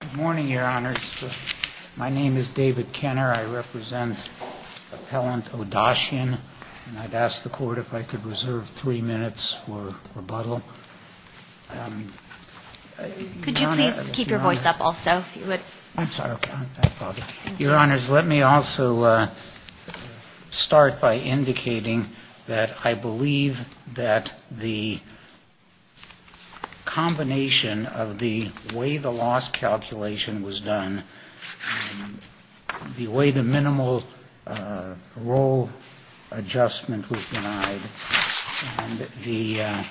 Good morning, Your Honors. My name is David Kenner. I represent Appellant Odachyan, and I'd ask the Court if I could reserve three minutes for rebuttal. Could you please keep your voice up also? Your Honors, let me also start by indicating that I believe that the combination of the way the loss calculation was done, the way the minimal roll adjustment was denied, and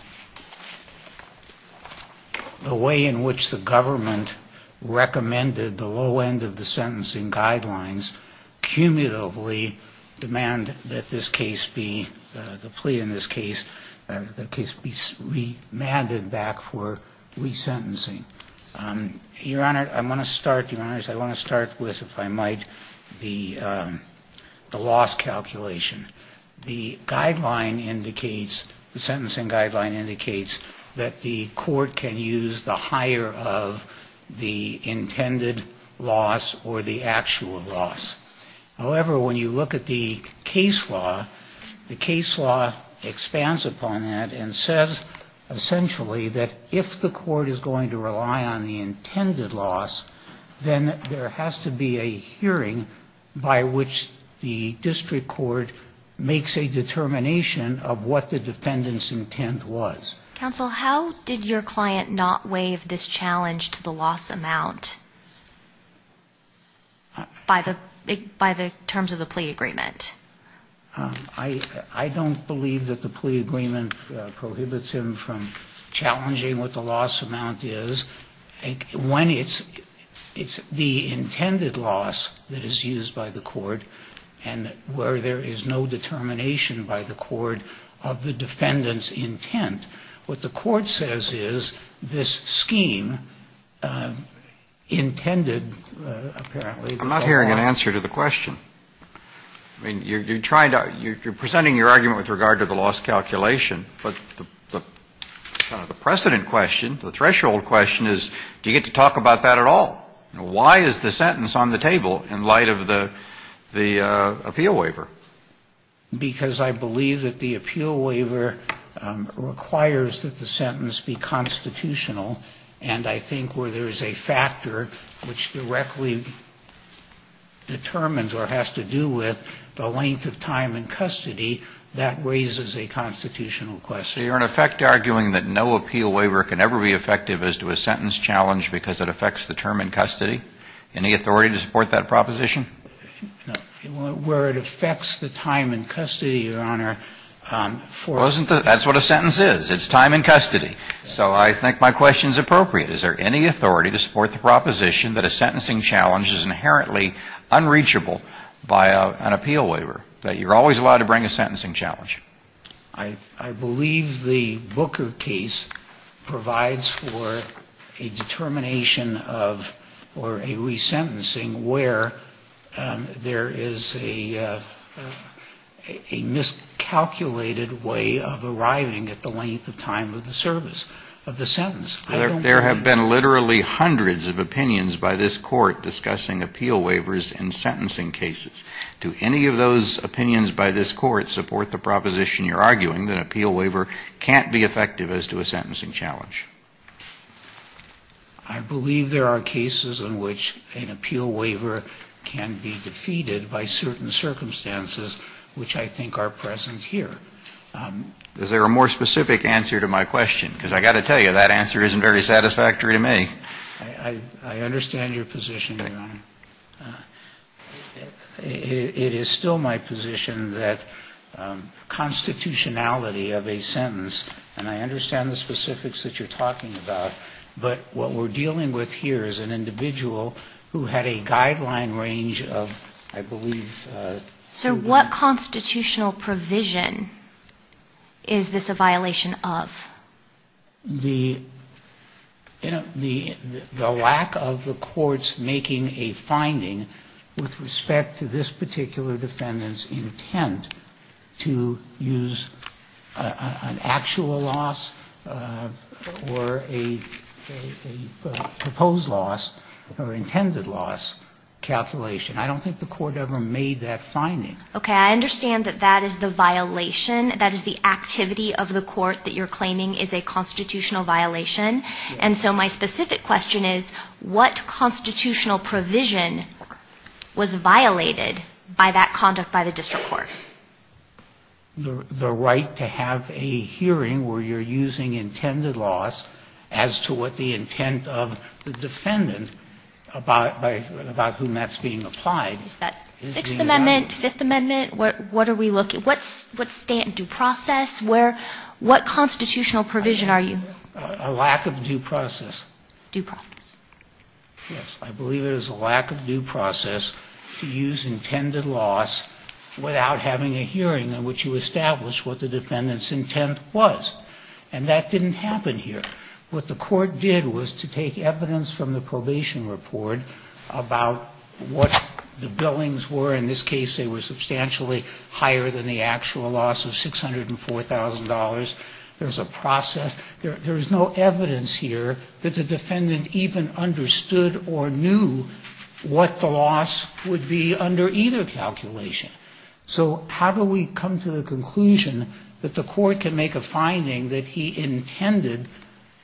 the way in which the government recommended the low end of the sentencing guidelines cumulatively demand that the plea in this case be remanded back for resentencing. Your Honors, I want to start with, if I might, the loss calculation. The guideline indicates, the sentencing guideline indicates that the Court can use the higher of the intended loss or the actual loss. However, when you look at the case law, the case law expands upon that and says, essentially, that if the Court is going to rely on the intended loss, then there has to be a hearing by which the district court makes a determination of what the defendant's intent was. Counsel, how did your client not waive this challenge to the loss amount by the terms of the plea agreement? I don't believe that the plea agreement prohibits him from challenging what the loss amount is. When it's the intended loss that is used by the Court and where there is no determination by the Court of the defendant's intent, what the Court says is this scheme intended, apparently. I'm not hearing an answer to the question. You're presenting your argument with regard to the loss calculation, but the precedent question, the threshold question is, do you get to talk about that at all? Why is the sentence on the table in light of the appeal waiver? Because I believe that the appeal waiver requires that the sentence be constitutional. And I think where there is a factor which directly determines or has to do with the length of time in custody, that raises a constitutional question. So you're, in effect, arguing that no appeal waiver can ever be effective as to a sentence challenge because it affects the term in custody? Any authority to support that proposition? Where it affects the time in custody, Your Honor, for... That's what a sentence is. It's time in custody. So I think my question is appropriate. Is there any authority to support the proposition that a sentencing challenge is inherently unreachable by an appeal waiver, that you're always allowed to bring a sentencing challenge? I believe the Booker case provides for a determination of, or a resentencing where there is a miscalculated way of arriving at the length of time of the sentence. There have been literally hundreds of opinions by this Court discussing appeal waivers in sentencing cases. Do any of those opinions by this Court support the proposition you're arguing that an appeal waiver can't be effective as to a sentencing challenge? I believe there are cases in which an appeal waiver can be defeated by certain circumstances, which I think are present here. Is there a more specific answer to my question? Because I've got to tell you, that answer isn't very satisfactory to me. I understand your position, Your Honor. It is still my position that constitutionality of a sentence, and I understand the specifics that you're talking about, but what we're dealing with here is an individual who had a guideline range of, I believe, two months. So what constitutional provision is this a violation of? The lack of the Court's making a finding with respect to this particular defendant's intent to use an actual loss or a proposed loss or intended loss calculation. I don't think the Court ever made that finding. Okay. I understand that that is the violation, that is the activity of the Court that you're claiming is a constitutional violation. And so my specific question is, what constitutional provision was violated by that conduct by the district court? The right to have a hearing where you're using intended loss as to what the intent of the defendant, about whom that's being applied. Is that Sixth Amendment, Fifth Amendment? What are we looking at? What's due process? What constitutional provision are you? A lack of due process. Due process. Yes. I believe it is a lack of due process to use intended loss without having a hearing in which you establish what the defendant's intent was. And that didn't happen here. What the Court did was to take evidence from the probation report about what the billings were. In this case, they were substantially higher than the actual loss of $604,000. There's a process. There is no evidence here that the defendant even understood or knew what the loss would be under either calculation. So how do we come to the conclusion that the Court can make a finding that he intended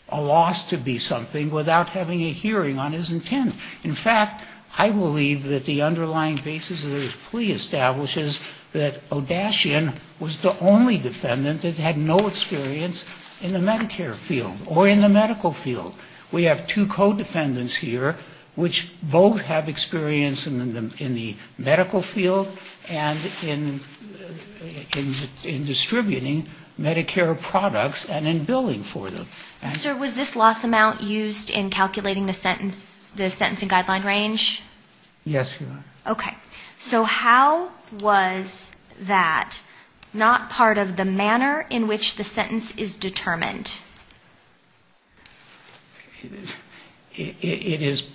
a loss to be something without having a hearing on his intent? In fact, I believe that the underlying basis of this plea establishes that Odashian was the only defendant that had no experience in the Medicare field or in the medical field. We have two co-defendants here, which both have experience in the medical field and in distributing Medicare products and in billing for them. Sir, was this loss amount used in calculating the sentencing guideline range? Yes, Your Honor. Okay. So how was that not part of the manner in which the sentence is determined? It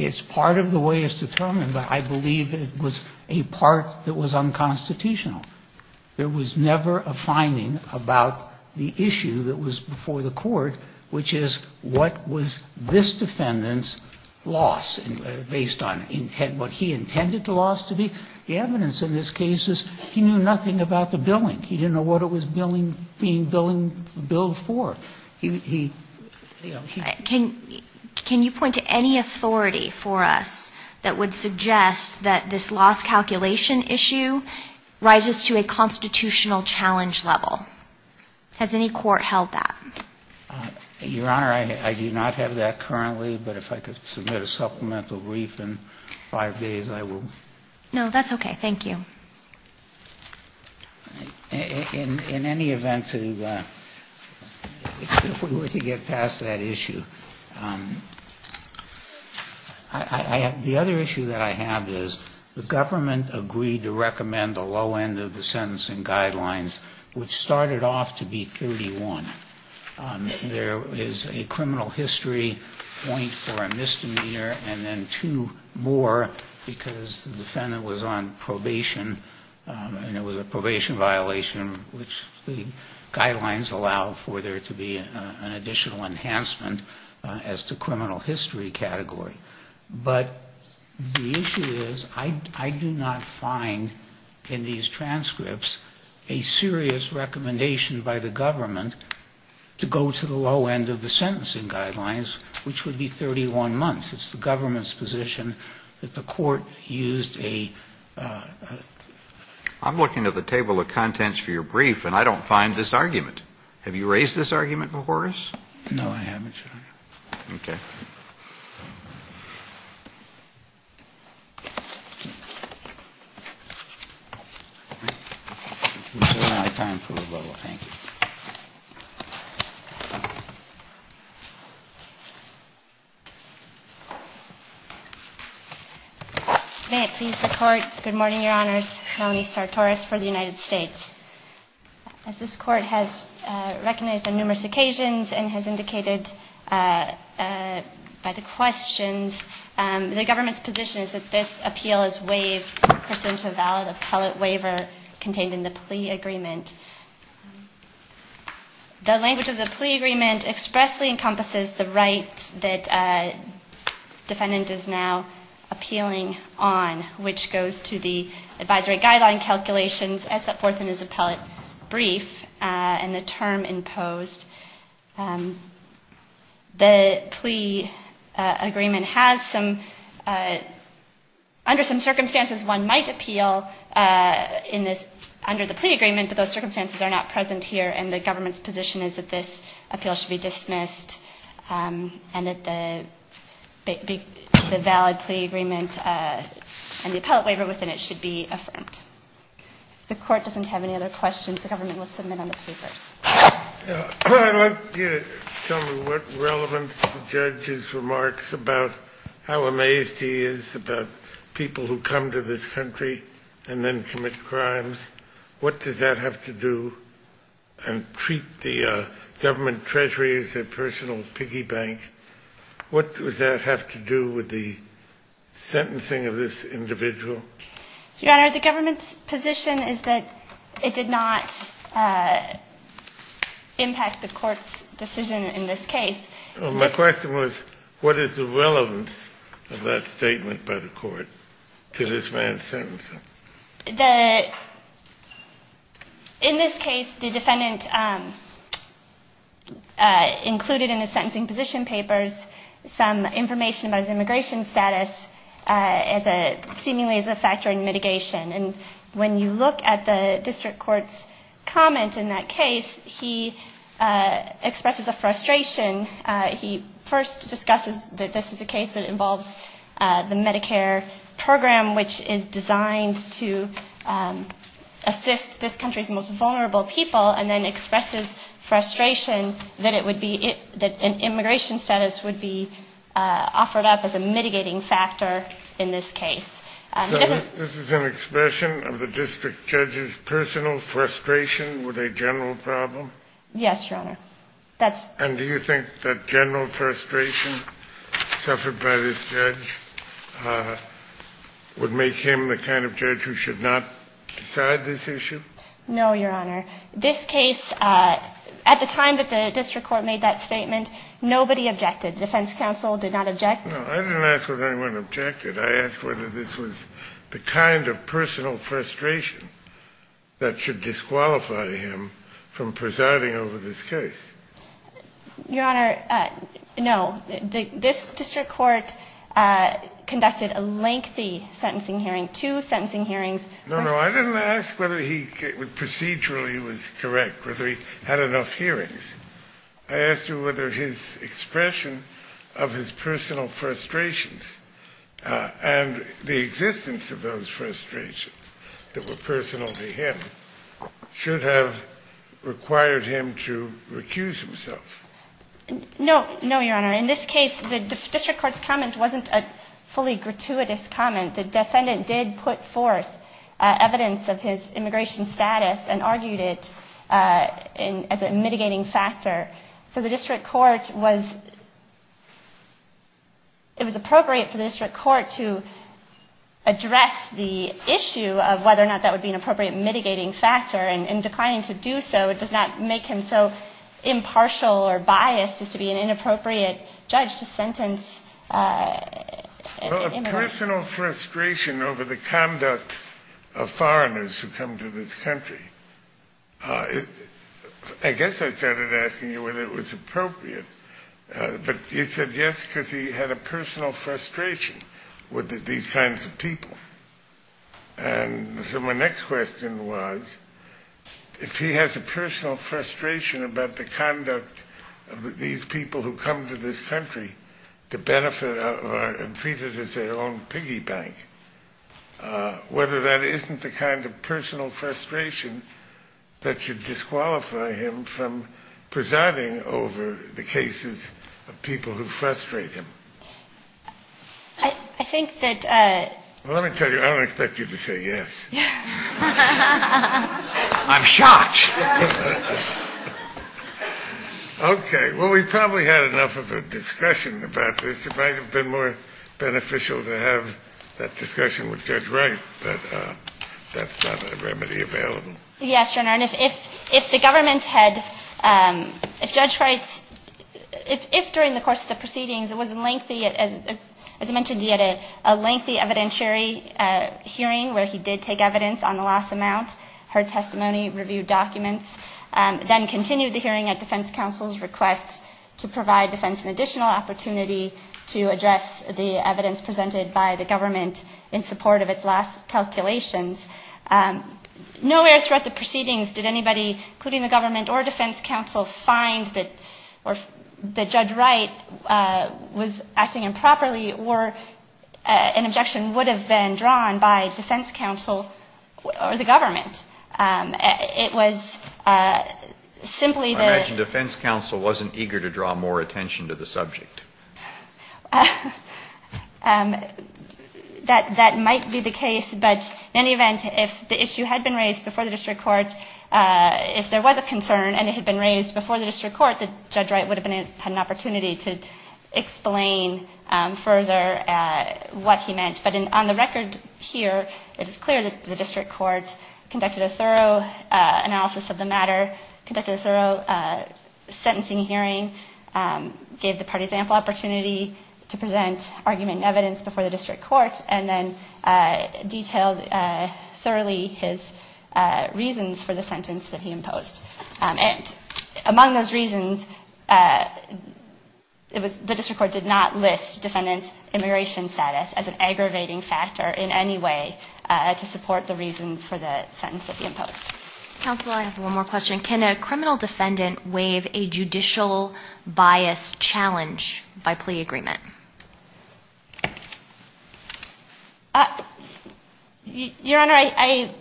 is part of the way it's determined, but I believe it was a part that was unconstitutional. There was never a finding about the issue that was before the Court, which is what was this defendant's loss based on what he intended the loss to be. The evidence in this case is he knew nothing about the billing. He didn't know what it was being billed for. Can you point to any authority for us that would suggest that this loss calculation issue rises to a constitutional challenge level? Has any court held that? Your Honor, I do not have that currently, but if I could submit a supplemental brief in five days, I will. No, that's okay. Thank you. In any event, if we were to get past that issue, the other issue that I have is the government agreed to recommend the low end of the sentencing guidelines, which started off to be 31. There is a criminal history point for a misdemeanor and then two more because the defendant was on probation and it was a probation violation, which the guidelines allow for there to be an additional enhancement as to criminal history category. But the issue is I do not find in these transcripts a serious recommendation by the government to go to the low end of the sentencing guidelines, which would be 31 months. It's the government's position that the Court used a ---- I'm looking at the table of contents for your brief and I don't find this argument. Have you raised this argument before us? No, I haven't, Your Honor. Okay. Thank you. May it please the Court, good morning, Your Honors. Nominee Sartorius for the United States. As this Court has recognized on numerous occasions and has indicated by the questions, the government's position is that this appeal is waived pursuant to a valid appellate waiver contained in the plea agreement. The language of the plea agreement expressly encompasses the rights that defendant is now appealing on, which goes to the advisory guideline calculations as set forth in his appellate brief and the term imposed. The plea agreement has some, under some circumstances one might appeal in this, under the plea agreement, but those circumstances are not present here and the government's position is that this appeal should be dismissed and that the valid plea agreement and the appellate waiver within it should be affirmed. If the Court doesn't have any other questions, the government will submit on the papers. I want you to tell me what relevance the judge's remarks about how amazed he is about people who come to this country and then commit crimes. What does that have to do and treat the government treasury as a personal piggy bank? What does that have to do with the sentencing of this individual? Your Honor, the government's position is that it did not impact the Court's decision in this case. My question was, what is the relevance of that statement by the Court to this man's sentencing? In this case, the defendant included in his sentencing position papers some information about his immigration status as a, seemingly as a factor in mitigation. And when you look at the district court's comment in that case, he expresses a frustration. He first discusses that this is a case that involves the Medicare program, which is designed to assist this country's most vulnerable people, and then expresses frustration that it would be, that an immigration status would be offered up as a mitigating factor in this case. So this is an expression of the district judge's personal frustration with a general problem? Yes, Your Honor. And do you think that general frustration suffered by this judge would make him the kind of judge who should not decide this issue? No, Your Honor. This case, at the time that the district court made that statement, nobody objected. Defense counsel did not object. No, I didn't ask whether anyone objected. I asked whether this was the kind of personal frustration that should disqualify him from presiding over this case. Your Honor, no. This district court conducted a lengthy sentencing hearing, two sentencing hearings. No, no. I didn't ask whether he procedurally was correct, whether he had enough hearings. I asked you whether his expression of his personal frustrations and the existence of those frustrations that were personal to him should have required him to recuse himself. No, no, Your Honor. In this case, the district court's comment wasn't a fully gratuitous comment. The defendant did put forth evidence of his immigration status and argued it as a mitigating factor. So the district court was – it was appropriate for the district court to address the issue of whether or not that would be an appropriate mitigating factor. And in declining to do so, it does not make him so impartial or biased as to be an inappropriate judge to sentence immigrants. His personal frustration over the conduct of foreigners who come to this country – I guess I started asking you whether it was appropriate. But you said yes because he had a personal frustration with these kinds of people. And so my next question was, if he has a personal frustration about the conduct of these people who come to this country to benefit – and treat it as their own piggy bank, whether that isn't the kind of personal frustration that should disqualify him from presiding over the cases of people who frustrate him. I think that – Well, let me tell you, I don't expect you to say yes. I'm shocked. Okay. Well, we've probably had enough of a discussion about this. It might have been more beneficial to have that discussion with Judge Wright, but that's not a remedy available. Yes, Your Honor. And if the government had – if Judge Wright's – if during the course of the proceedings it was a lengthy – as I mentioned, he had a lengthy evidentiary hearing where he did take evidence on the loss amount, heard testimony, reviewed documents, then continued the hearing at defense counsel's request to provide defense an additional opportunity to address the evidence presented by the government in support of its loss calculations. Nowhere throughout the proceedings did anybody, including the government or defense counsel, find that – or that Judge Wright was acting improperly or an objection would have been drawn by defense counsel or the government. It was simply the – I imagine defense counsel wasn't eager to draw more attention to the subject. That might be the case. But in any event, if the issue had been raised before the district court, if there was a concern and it had been raised before the district court, Judge Wright would have had an opportunity to explain further what he meant. But on the record here, it is clear that the district court conducted a thorough analysis of the matter, conducted a thorough sentencing hearing, gave the parties ample opportunity to present argument and evidence before the district court, and then detailed thoroughly his reasons for the sentence that he imposed. And among those reasons, it was – the district court did not list defendant's immigration status as an aggravating factor in any way Counsel, I have one more question. Can a criminal defendant waive a judicial bias challenge by plea agreement? Your Honor, I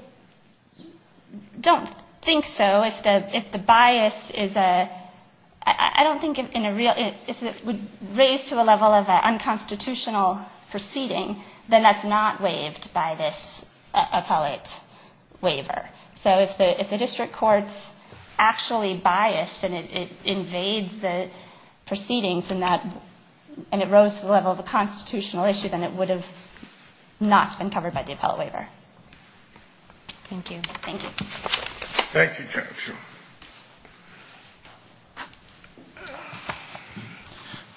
don't think so. If the bias is a – I don't think in a real – if it would raise to a level of an unconstitutional proceeding, then that's not waived by this appellate waiver. So if the district court's actually biased and it invades the proceedings and that – and it rose to the level of a constitutional issue, then it would have not been covered by the appellate waiver. Thank you. Thank you. Thank you, Counsel.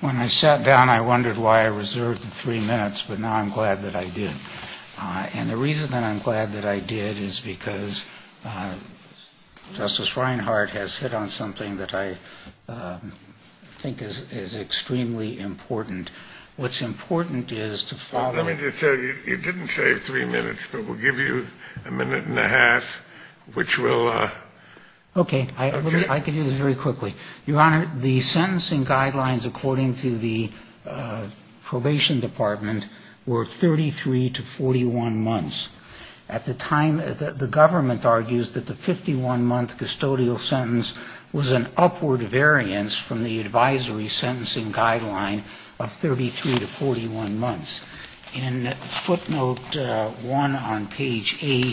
When I sat down, I wondered why I reserved the three minutes, but now I'm glad that I did. And the reason that I'm glad that I did is because Justice Reinhart has hit on something that I think is extremely important. What's important is to follow up – Let me just tell you, you didn't save three minutes, but we'll give you a minute and a half, which will – Okay. I can do this very quickly. Your Honor, the sentencing guidelines according to the probation department were 33 to 41 months. At the time, the government argues that the 51-month custodial sentence was an upward variance from the advisory sentencing guideline of 33 to 41 months. In footnote 1 on page 8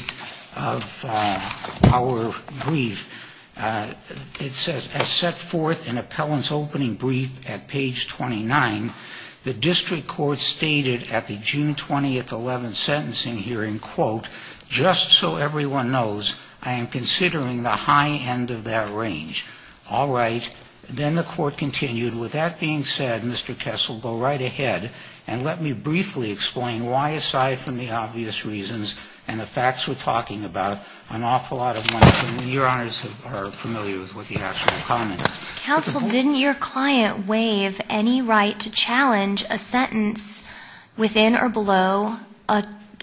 of our brief, it says, As set forth in appellant's opening brief at page 29, the district court stated at the June 20, 2011 sentencing hearing, quote, just so everyone knows, I am considering the high end of that range. All right. Then the court continued. With that being said, Mr. Kessel, go right ahead and let me briefly explain why, aside from the obvious reasons and the facts we're talking about, an awful lot of money – your honors are familiar with what the actual comment is. Counsel, didn't your client waive any right to challenge a sentence within or below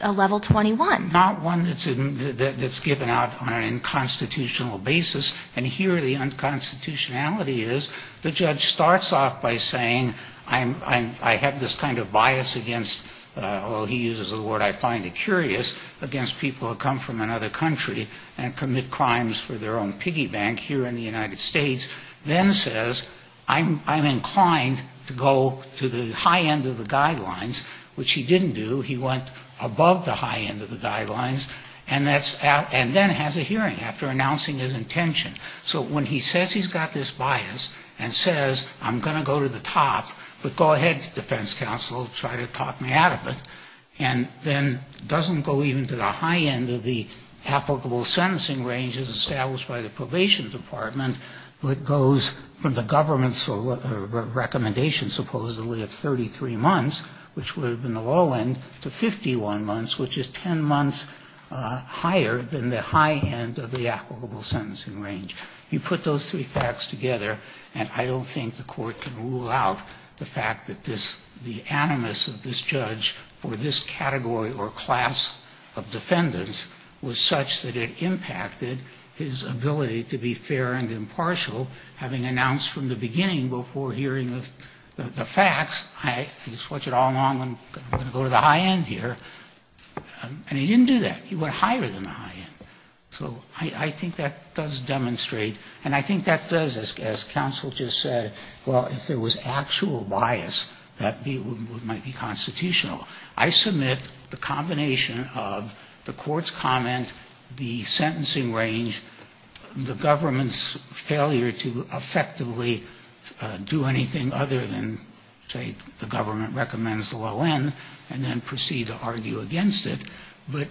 a level 21? Not one that's given out on an unconstitutional basis. And here the unconstitutionality is the judge starts off by saying I have this kind of bias against – although he uses the word I find it curious – against people who come from another country and commit crimes for their own piggy bank here in the United States, then says I'm inclined to go to the high end of the guidelines, which he didn't do. He went above the high end of the guidelines and then has a hearing after announcing his intention. So when he says he's got this bias and says I'm going to go to the top, but go ahead, defense counsel, try to talk me out of it, and then doesn't go even to the high end of the applicable sentencing ranges established by the probation department, but goes from the government's recommendation supposedly of 33 months, which would have been the low end, to 51 months, which is 10 months higher than the high end of the applicable sentencing range. You put those three facts together and I don't think the Court can rule out the fact that this – the animus of this judge for this category or class of defendants was such that it impacted his ability to be fair and impartial, having announced from the beginning before hearing the facts, I can swatch it all along, I'm going to go to the high end here, and he didn't do that. He went higher than the high end. So I think that does demonstrate, and I think that does, as counsel just said, well, if there was actual bias, that might be constitutional. I submit the combination of the Court's comment, the sentencing range, the government's failure to effectively do anything other than say the government recommends the low end, and then proceed to argue against it, but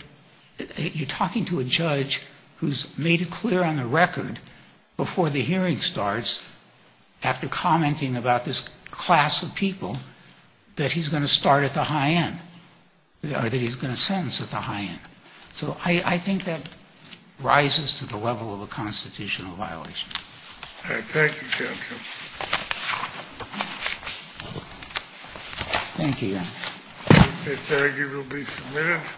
you're talking to a judge who's made it clear on the record before the hearing starts, after commenting about this class of people, that he's going to start at the high end, or that he's going to sentence at the high end. So I think that rises to the level of a constitutional violation. All right. Thank you, counsel. Thank you, Your Honor. This argument will be submitted.